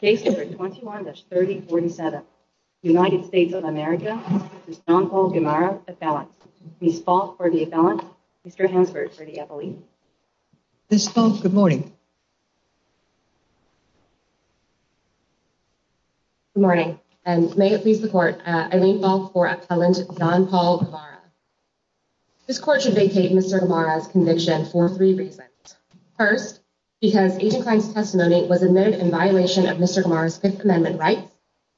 Case number 21-3047, United States of America, Jean-Paul Gamarra, appellant. Ms. Falk for the appellant, Mr. Hansberg for the appellee. Ms. Falk, good morning. Good morning, and may it please the court, I now call for appellant Jean-Paul Gamarra. This court should vacate Mr. Gamarra's conviction for three reasons. First, because Agent Klein's testimony was admitted in violation of Mr. Gamarra's Fifth Amendment rights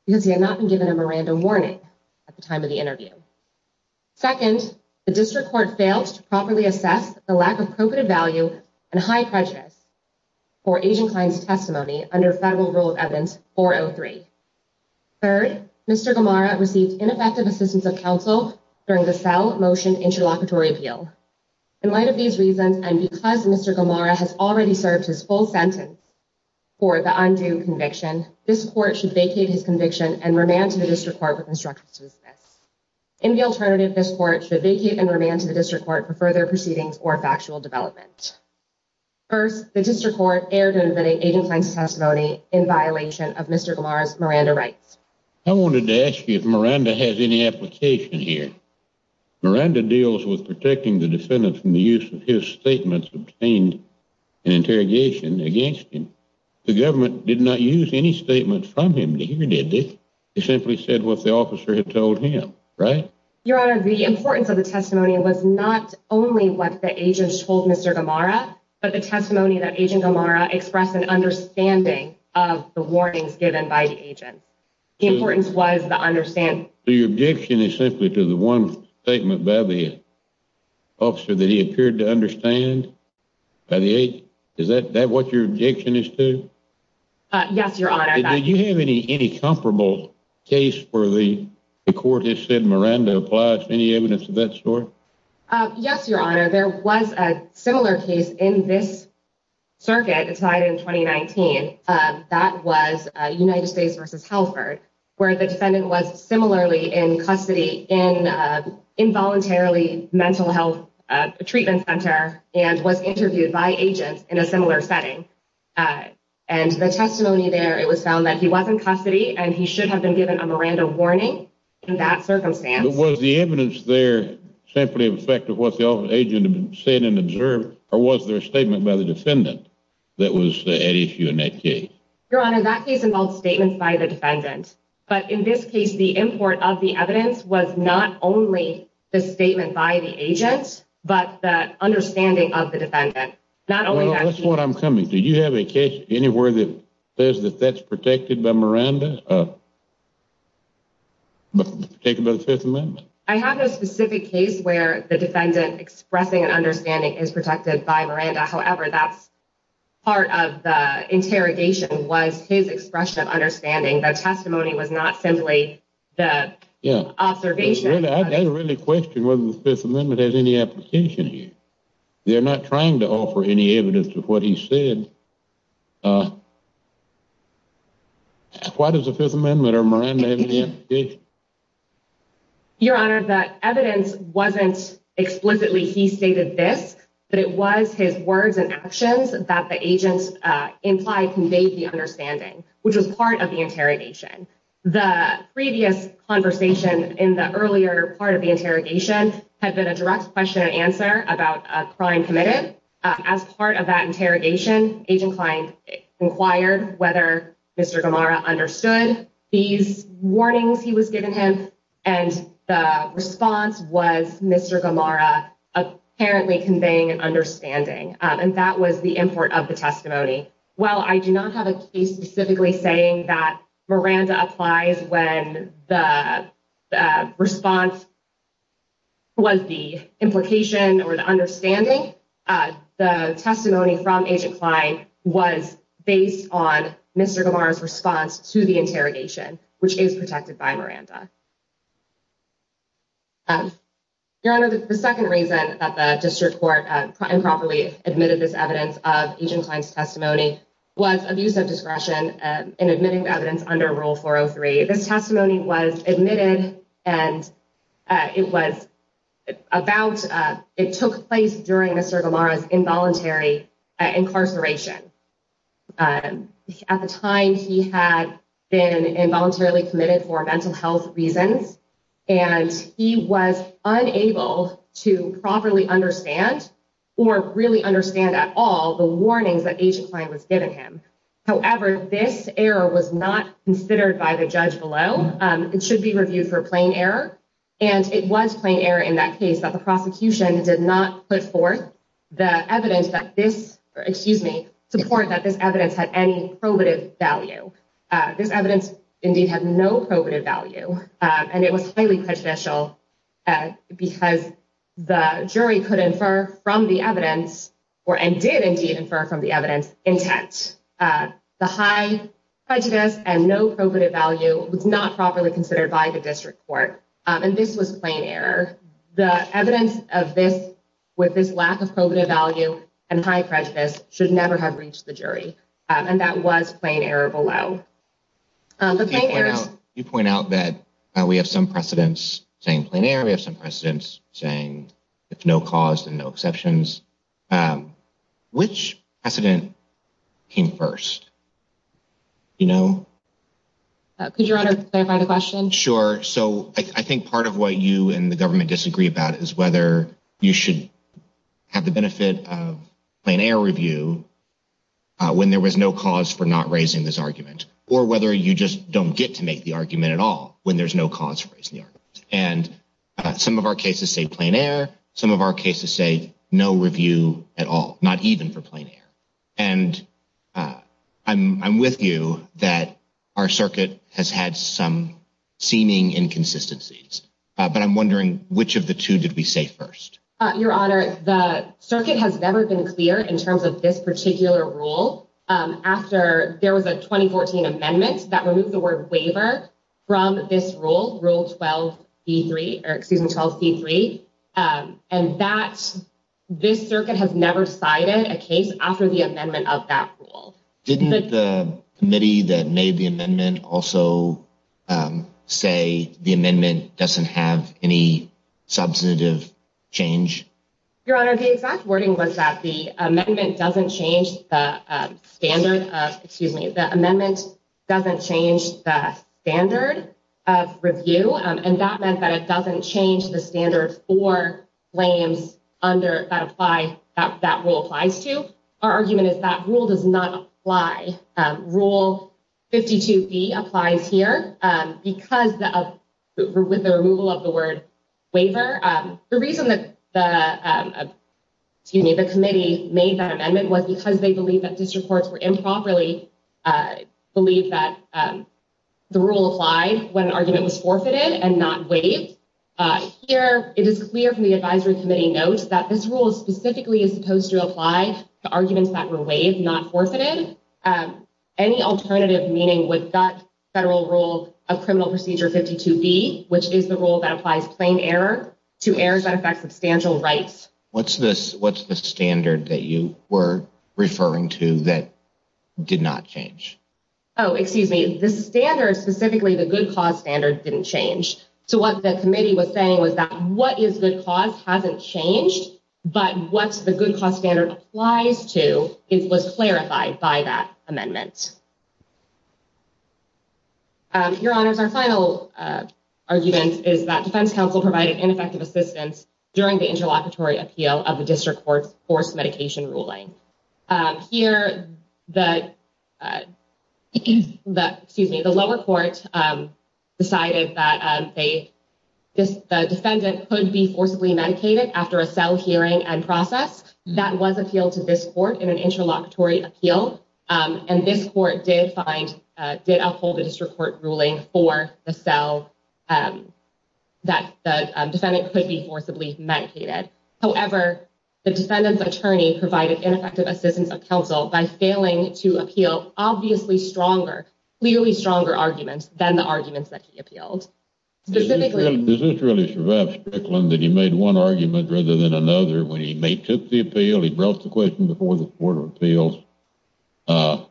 because he had not been given a Miranda warning at the time of the interview. Second, the district court failed to properly assess the lack of appropriate value and high prejudice for Agent Klein's testimony under Federal Rule of Evidence 403. Third, Mr. Gamarra received ineffective assistance of counsel during the cell motion interlocutory appeal. In light of these reasons, and because Mr. Gamarra has already served his full sentence for the undue conviction, this court should vacate his conviction and remand to the district court with instructions to dismiss. In the alternative, this court should vacate and remand to the district court for further proceedings or factual development. First, the district court erred in admitting Agent Klein's testimony in violation of Mr. Gamarra's Miranda rights. I wanted to ask you if Miranda has any application here. Miranda deals with protecting the defendant from the use of his statements obtained in interrogation against him. The government did not use any statements from him to hear, did they? They simply said what the officer had told him, right? Your Honor, the importance of the testimony was not only what the agents told Mr. Gamarra, but the testimony that Agent Gamarra expressed an understanding of the warnings given by the agents. The importance was the understanding. So your objection is simply to the one statement by the officer that he appeared to understand by the agent? Is that what your objection is to? Yes, Your Honor. Did you have any comparable case where the court has said Miranda applies? Any evidence of that sort? Yes, Your Honor. There was a similar case in this circuit decided in 2019. That was United States v. Halford, where the defendant was similarly in custody in involuntarily mental health treatment center and was interviewed by agents in a similar setting. And the testimony there, it was found that he was in custody and he should have been given a Miranda warning in that circumstance. Was the evidence there simply in effect of what the agent had said and observed, or was there a statement by the defendant that was at issue in that case? Your Honor, that case involved statements by the defendant. But in this case, the import of the evidence was not only the statement by the agent, but the understanding of the defendant. That's what I'm coming to. Did you have a case anywhere that says that that's protected by Miranda? Protected by the Fifth Amendment? I have no specific case where the defendant expressing an understanding is protected by Miranda. However, that's part of the interrogation was his expression of understanding. The testimony was not simply the observation. I really question whether the Fifth Amendment has any application here. They're not trying to offer any evidence of what he said. Why does the Fifth Amendment or Miranda have any application? Your Honor, that evidence wasn't explicitly he stated this, but it was his words and actions that the agents implied conveyed the understanding, which was part of the interrogation. The previous conversation in the earlier part of the interrogation had been a direct question and answer about a crime committed. As part of that interrogation, agent client inquired whether Mr. Gamara understood these warnings he was given him. And the response was Mr. Gamara apparently conveying an understanding. And that was the import of the testimony. Well, I do not have a case specifically saying that Miranda applies when the response. Was the implication or the understanding the testimony from agent client was based on Mr. Gamara's response to the interrogation, which is protected by Miranda. Your Honor, the second reason that the district court improperly admitted this evidence of agent client's testimony was abuse of discretion and admitting evidence under Rule 403. This testimony was admitted and it was about it took place during Mr. Gamara's involuntary incarceration. At the time he had been involuntarily committed for mental health reasons, and he was unable to properly understand or really understand at all the warnings that agent client was giving him. However, this error was not considered by the judge below. It should be reviewed for plain error. And it was plain error in that case that the prosecution did not put forth the evidence that this excuse me support that this evidence had any probative value. This evidence indeed had no probative value. And it was highly prejudicial because the jury could infer from the evidence or and did indeed infer from the evidence intent. The high prejudice and no probative value was not properly considered by the district court. And this was plain error. The evidence of this with this lack of probative value and high prejudice should never have reached the jury. And that was plain error below. You point out that we have some precedents saying planar. We have some precedents saying it's no cause and no exceptions. Which precedent came first? You know. Could you clarify the question? Sure. So I think part of what you and the government disagree about is whether you should have the benefit of an air review when there was no cause for not raising this argument. Or whether you just don't get to make the argument at all when there's no cause. And some of our cases say planar. Some of our cases say no review at all, not even for planar. And I'm with you that our circuit has had some seeming inconsistencies. But I'm wondering which of the two did we say first? Your Honor, the circuit has never been clear in terms of this particular rule. There was a 2014 amendment that removed the word waiver from this rule. Rule 12 C3. And this circuit has never cited a case after the amendment of that rule. Didn't the committee that made the amendment also say the amendment doesn't have any substantive change? Your Honor, the exact wording was that the amendment doesn't change the standard of review. And that meant that it doesn't change the standard for claims that rule applies to. Our argument is that rule does not apply. Rule 52B applies here because of the removal of the word waiver. Your Honor, the reason that the committee made that amendment was because they believe that district courts were improperly believed that the rule applied when an argument was forfeited and not waived. Here, it is clear from the advisory committee notes that this rule specifically is supposed to apply to arguments that were waived, not forfeited. Any alternative meaning with that federal rule of criminal procedure 52B, which is the rule that applies plain error to errors that affect substantial rights. What's the standard that you were referring to that did not change? Oh, excuse me. This standard, specifically the good cause standard, didn't change. So what the committee was saying was that what is good cause hasn't changed, but what the good cause standard applies to was clarified by that amendment. Your Honors, our final argument is that defense counsel provided ineffective assistance during the interlocutory appeal of the district court's forced medication ruling. Here, the lower court decided that the defendant could be forcibly medicated after a cell hearing and process. That was appealed to this court in an interlocutory appeal. And this court did find, did uphold the district court ruling for the cell that the defendant could be forcibly medicated. However, the defendant's attorney provided ineffective assistance of counsel by failing to appeal obviously stronger, clearly stronger arguments than the arguments that he appealed. Does this really survive Strickland that he made one argument rather than another when he took the appeal? He brought the question before the court of appeals. How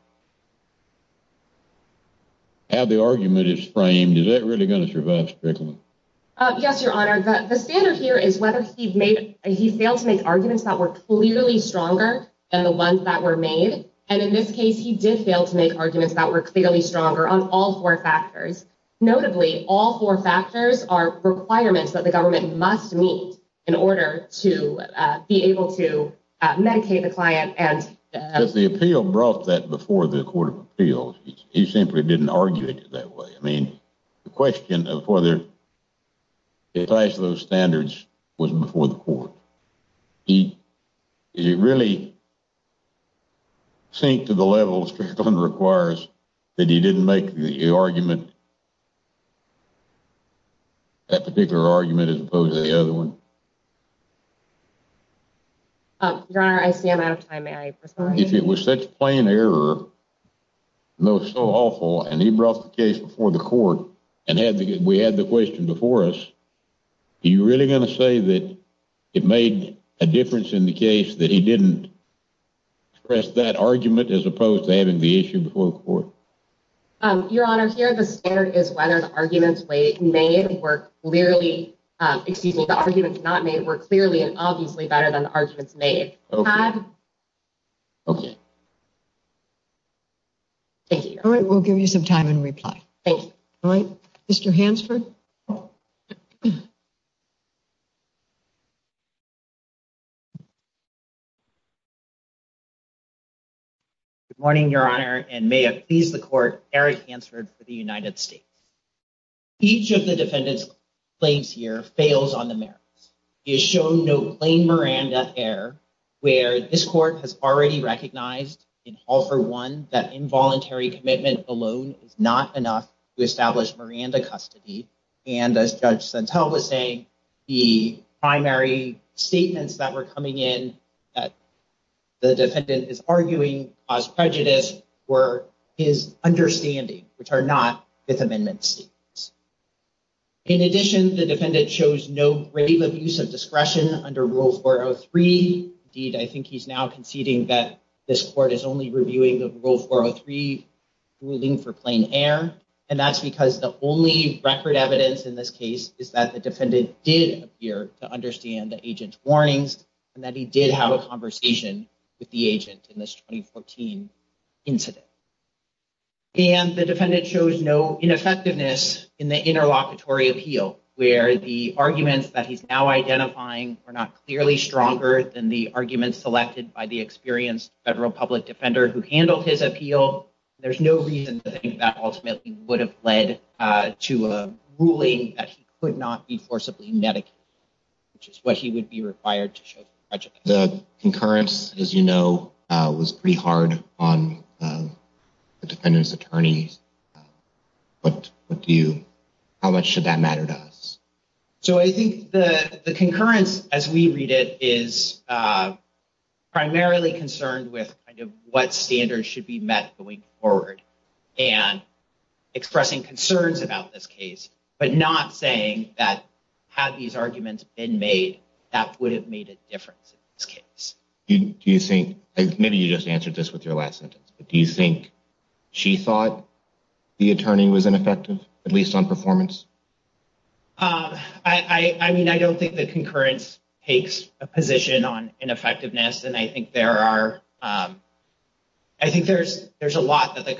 the argument is framed, is that really going to survive Strickland? Yes, Your Honor. The standard here is whether he failed to make arguments that were clearly stronger than the ones that were made. And in this case, he did fail to make arguments that were clearly stronger on all four factors. Notably, all four factors are requirements that the government must meet in order to be able to medicate the client. The appeal brought that before the court of appeals. He simply didn't argue it that way. I mean, the question of whether it passed those standards was before the court. He really sink to the level Strickland requires that he didn't make the argument, that particular argument as opposed to the other one? Your Honor, I see I'm out of time. May I respond? If it was such a plain error, though so awful, and he brought the case before the court and we had the question before us, are you really going to say that it made a difference in the case that he didn't express that argument as opposed to having the issue before the court? Your Honor, here, the standard is whether the arguments made were clearly excuse me, the arguments not made were clearly and obviously better than the arguments made. OK. Thank you. All right. We'll give you some time and reply. Mr. Hansford. Good morning, Your Honor, and may I please the court Eric answered for the United States. Each of the defendants claims here fails on the merits is shown. Miranda error where this court has already recognized in all for one that involuntary commitment alone is not enough to establish Miranda custody. And as Judge Santel was saying, the primary statements that were coming in that the defendant is arguing as prejudice were his understanding, which are not his amendments. In addition, the defendant shows no rave of use of discretion under rules for three. Indeed, I think he's now conceding that this court is only reviewing the rule for a three ruling for plain error. And that's because the only record evidence in this case is that the defendant did appear to understand the agent's warnings and that he did have a conversation with the agent in this 2014 incident. And the defendant shows no ineffectiveness in the interlocutory appeal where the arguments that he's now identifying are not clearly stronger than the arguments selected by the experienced federal public defender who handled his appeal. There's no reason that ultimately would have led to a ruling that he could not be forcibly medic. Which is what he would be required to show the concurrence, as you know, was pretty hard on the defendant's attorneys. But what do you how much should that matter to us? So I think the concurrence, as we read it, is primarily concerned with what standards should be met going forward and expressing concerns about this case. But not saying that have these arguments been made that would have made a difference in this case. Do you think maybe you just answered this with your last sentence? Do you think she thought the attorney was ineffective, at least on performance? I mean, I don't think the concurrence takes a position on ineffectiveness, and I think there are. I think there's there's a lot that the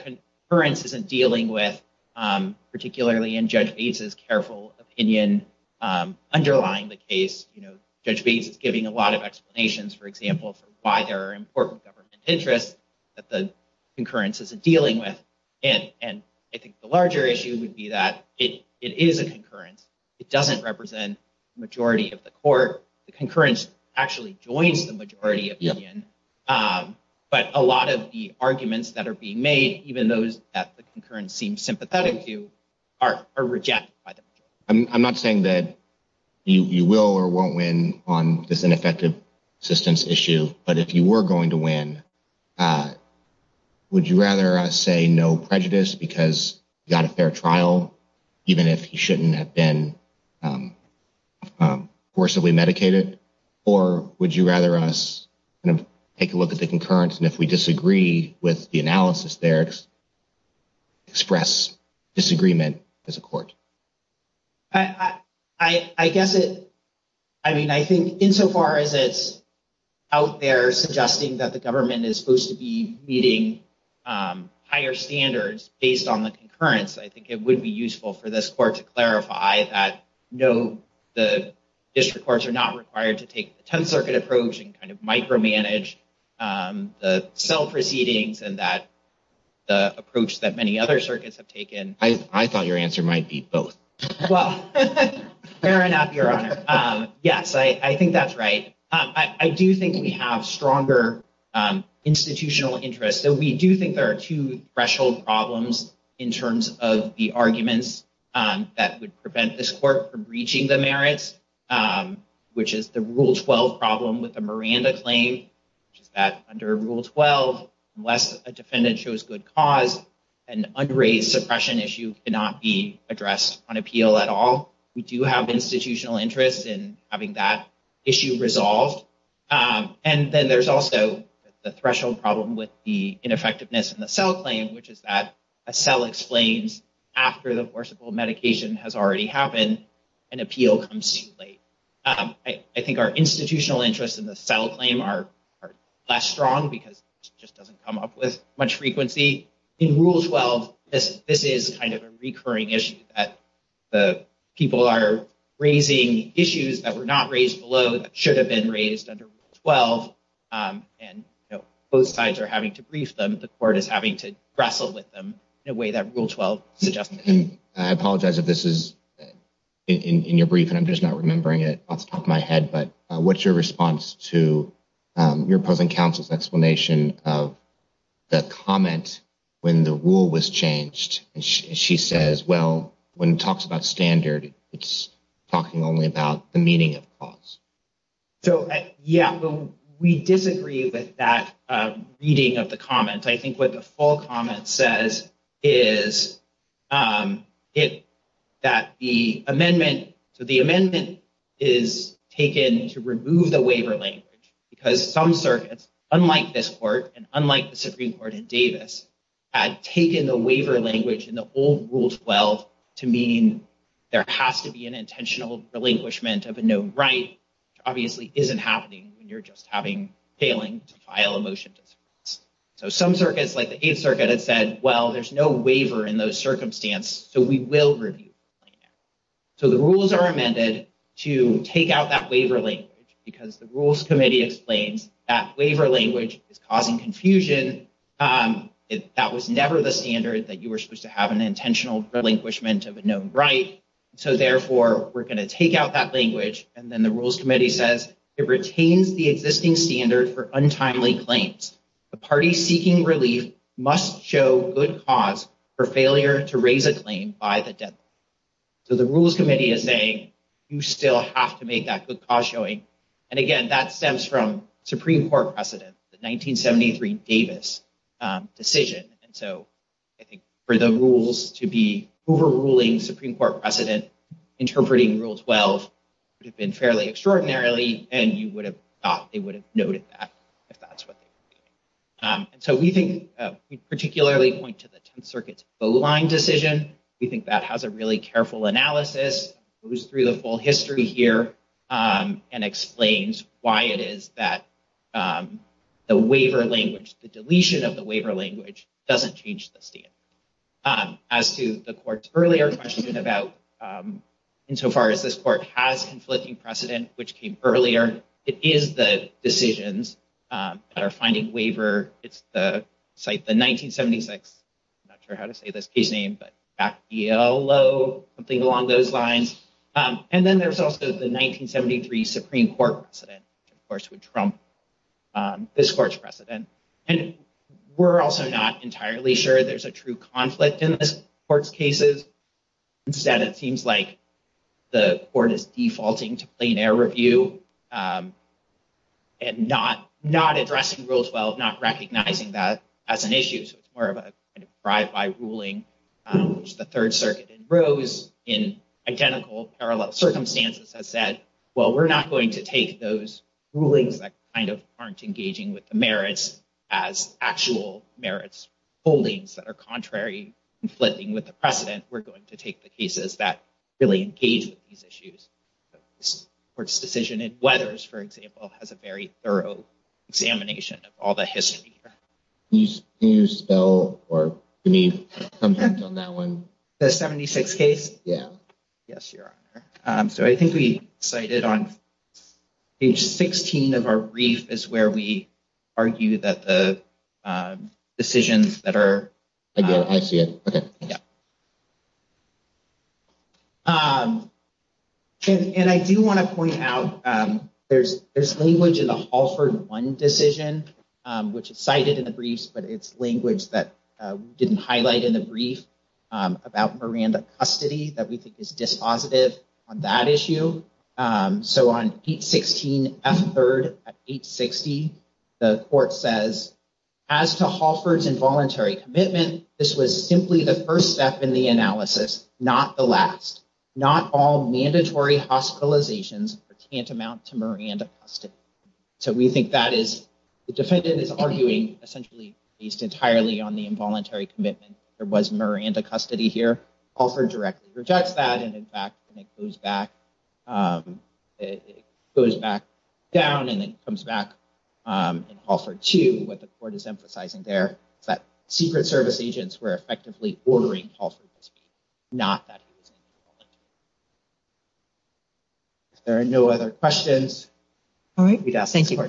current isn't dealing with, particularly in judges' careful opinion underlying the case. You know, Judge Bates is giving a lot of explanations, for example, for why there are important government interests that the concurrence isn't dealing with. And I think the larger issue would be that it is a concurrence. It doesn't represent the majority of the court. The concurrence actually joins the majority opinion. But a lot of the arguments that are being made, even those that the concurrence seems sympathetic to, are rejected by the majority. I'm not saying that you will or won't win on this ineffective assistance issue, but if you were going to win, would you rather say no prejudice because you got a fair trial, even if you shouldn't have been forcibly medicated? Or would you rather us take a look at the concurrence and if we disagree with the analysis there, express disagreement as a court? I guess it I mean, I think insofar as it's out there suggesting that the government is supposed to be meeting higher standards based on the concurrence, I think it would be useful for this court to clarify that no, the district courts are not required to take the 10th Circuit approach and kind of micromanage the self proceedings and that the approach that many other circuits have taken. I thought your answer might be both. Well, fair enough, Your Honor. Yes, I think that's right. I do think we have stronger institutional interest. So we do think there are two threshold problems in terms of the arguments that would prevent this court from reaching the merits, which is the Rule 12 problem with the Miranda claim, which is that under Rule 12, unless a defendant shows good cause, an unraised suppression issue cannot be addressed on appeal at all. We do have institutional interest in having that issue resolved. And then there's also the threshold problem with the ineffectiveness in the cell claim, which is that a cell explains after the forcible medication has already happened, an appeal comes too late. I think our institutional interests in the cell claim are less strong because it just doesn't come up with much frequency in Rule 12. This is kind of a recurring issue that people are raising issues that were not raised below, that should have been raised under Rule 12. And both sides are having to brief them. The court is having to wrestle with them in a way that Rule 12 suggests. I apologize if this is in your brief and I'm just not remembering it off the top of my head. But what's your response to your opposing counsel's explanation of the comment when the rule was changed? She says, well, when it talks about standard, it's talking only about the meaning of cause. So, yeah, we disagree with that reading of the comment. I think what the full comment says is that the amendment to the amendment is taken to remove the waiver language, because some circuits, unlike this court and unlike the Supreme Court in Davis, had taken the waiver language in the old Rule 12 to mean there has to be an intentional relinquishment of a known right, which obviously isn't happening when you're just having failing to file a motion. So some circuits like the 8th Circuit had said, well, there's no waiver in those circumstance. So we will review. So the rules are amended to take out that waiver language because the rules committee explains that waiver language is causing confusion. That was never the standard that you were supposed to have an intentional relinquishment of a known right. So therefore, we're going to take out that language. And then the rules committee says it retains the existing standard for untimely claims. The party seeking relief must show good cause for failure to raise a claim by the death. So the rules committee is saying you still have to make that good cause showing. And again, that stems from Supreme Court precedent, the 1973 Davis decision. And so I think for the rules to be overruling Supreme Court precedent, interpreting Rule 12 would have been fairly extraordinarily. And you would have thought they would have noted that if that's what they were doing. And so we think we particularly point to the 10th Circuit's Bowline decision. We think that has a really careful analysis, goes through the full history here and explains why it is that the waiver language, the deletion of the waiver language doesn't change the standard. As to the court's earlier question about insofar as this court has conflicting precedent, which came earlier, it is the decisions that are finding waiver. It's the site, the 1976, not sure how to say this case name, but back yellow, something along those lines. And then there's also the 1973 Supreme Court precedent, of course, would trump this court's precedent. And we're also not entirely sure there's a true conflict in this court's cases. Instead, it seems like the court is defaulting to plain air review and not not addressing Rule 12, not recognizing that as an issue. So it's more of a drive by ruling, which the Third Circuit in rows in identical circumstances has said, well, we're not going to take those rulings that kind of aren't engaging with the merits as actual merits holdings that are contrary, conflicting with the precedent. We're going to take the cases that really engage with these issues. This court's decision in Weathers, for example, has a very thorough examination of all the history. Can you spell or can you comment on that one? The 76 case? Yeah. Yes, Your Honor. So I think we cited on page 16 of our brief is where we argue that the decisions that are. I see it. And I do want to point out there's there's language in the Halford one decision, which is cited in the briefs, but it's language that didn't highlight in the brief about Miranda custody that we think is dispositive on that issue. So on eight, 16, a third, eight, 60, the court says as to Hoffer's involuntary commitment, this was simply the first step in the analysis, not the last, not all mandatory hospitalizations can't amount to Miranda custody. So we think that is the defendant is arguing essentially based entirely on the involuntary commitment. There was Miranda custody here. Offered directly rejects that. And in fact, it goes back. It goes back down and it comes back and offer to what the court is emphasizing there. That Secret Service agents were effectively ordering not that. There are no other questions. All right. Thank you. Why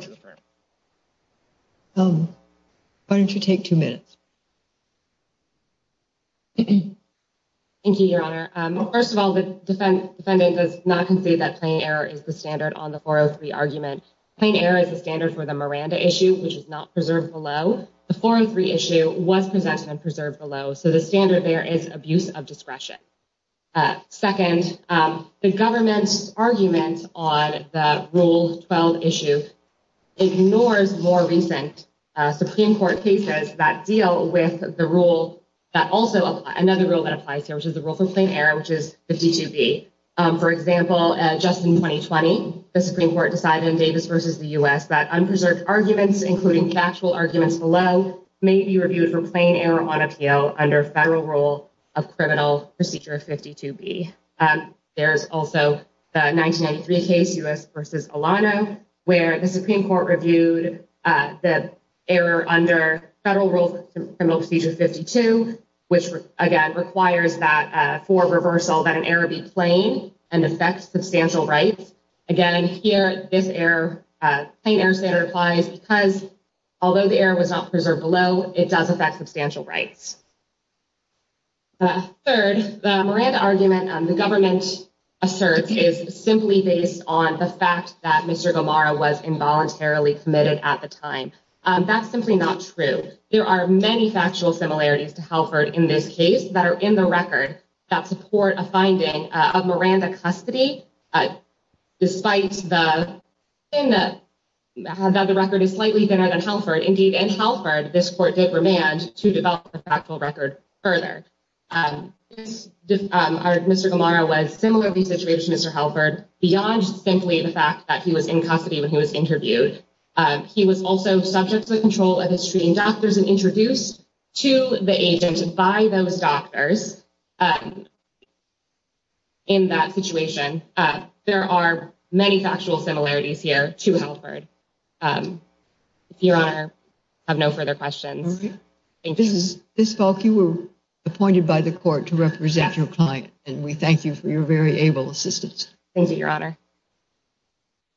don't you take two minutes? Thank you, Your Honor. First of all, the defendant does not concede that plain error is the standard on the 403 argument. Plain error is the standard for the Miranda issue, which is not preserved below. The 403 issue was presented and preserved below. So the standard there is abuse of discretion. Second, the government's arguments on the rule 12 issue ignores more recent Supreme Court cases that deal with the rule. That also another rule that applies here, which is the rule for plain error, which is 52 B. For example, just in 2020, the Supreme Court decided in Davis versus the U.S. that unpreserved arguments, including factual arguments below, may be reviewed for plain error on appeal under federal rule of criminal procedure 52 B. There's also the 1993 case, U.S. versus Alano, where the Supreme Court reviewed the error under federal rules, criminal procedure 52, which, again, requires that for reversal that an error be plain and affects substantial rights. Again, here, this error, plain error standard applies because although the error was not preserved below, it does affect substantial rights. Third, the Miranda argument the government asserts is simply based on the fact that Mr. Gomara was involuntarily committed at the time. That's simply not true. There are many factual similarities to Halford in this case that are in the record that support a finding of Miranda custody. Despite that the record is slightly thinner than Halford, indeed, in Halford, this court did remand to develop the factual record further. Mr. Gomara was similarly situated to Mr. Halford beyond simply the fact that he was in custody when he was interviewed. He was also subject to the control of his treating doctors and introduced to the agent by those doctors. In that situation, there are many factual similarities here to Halford. Your Honor, I have no further questions. Ms. Falk, you were appointed by the court to represent your client, and we thank you for your very able assistance. Thank you, Your Honor.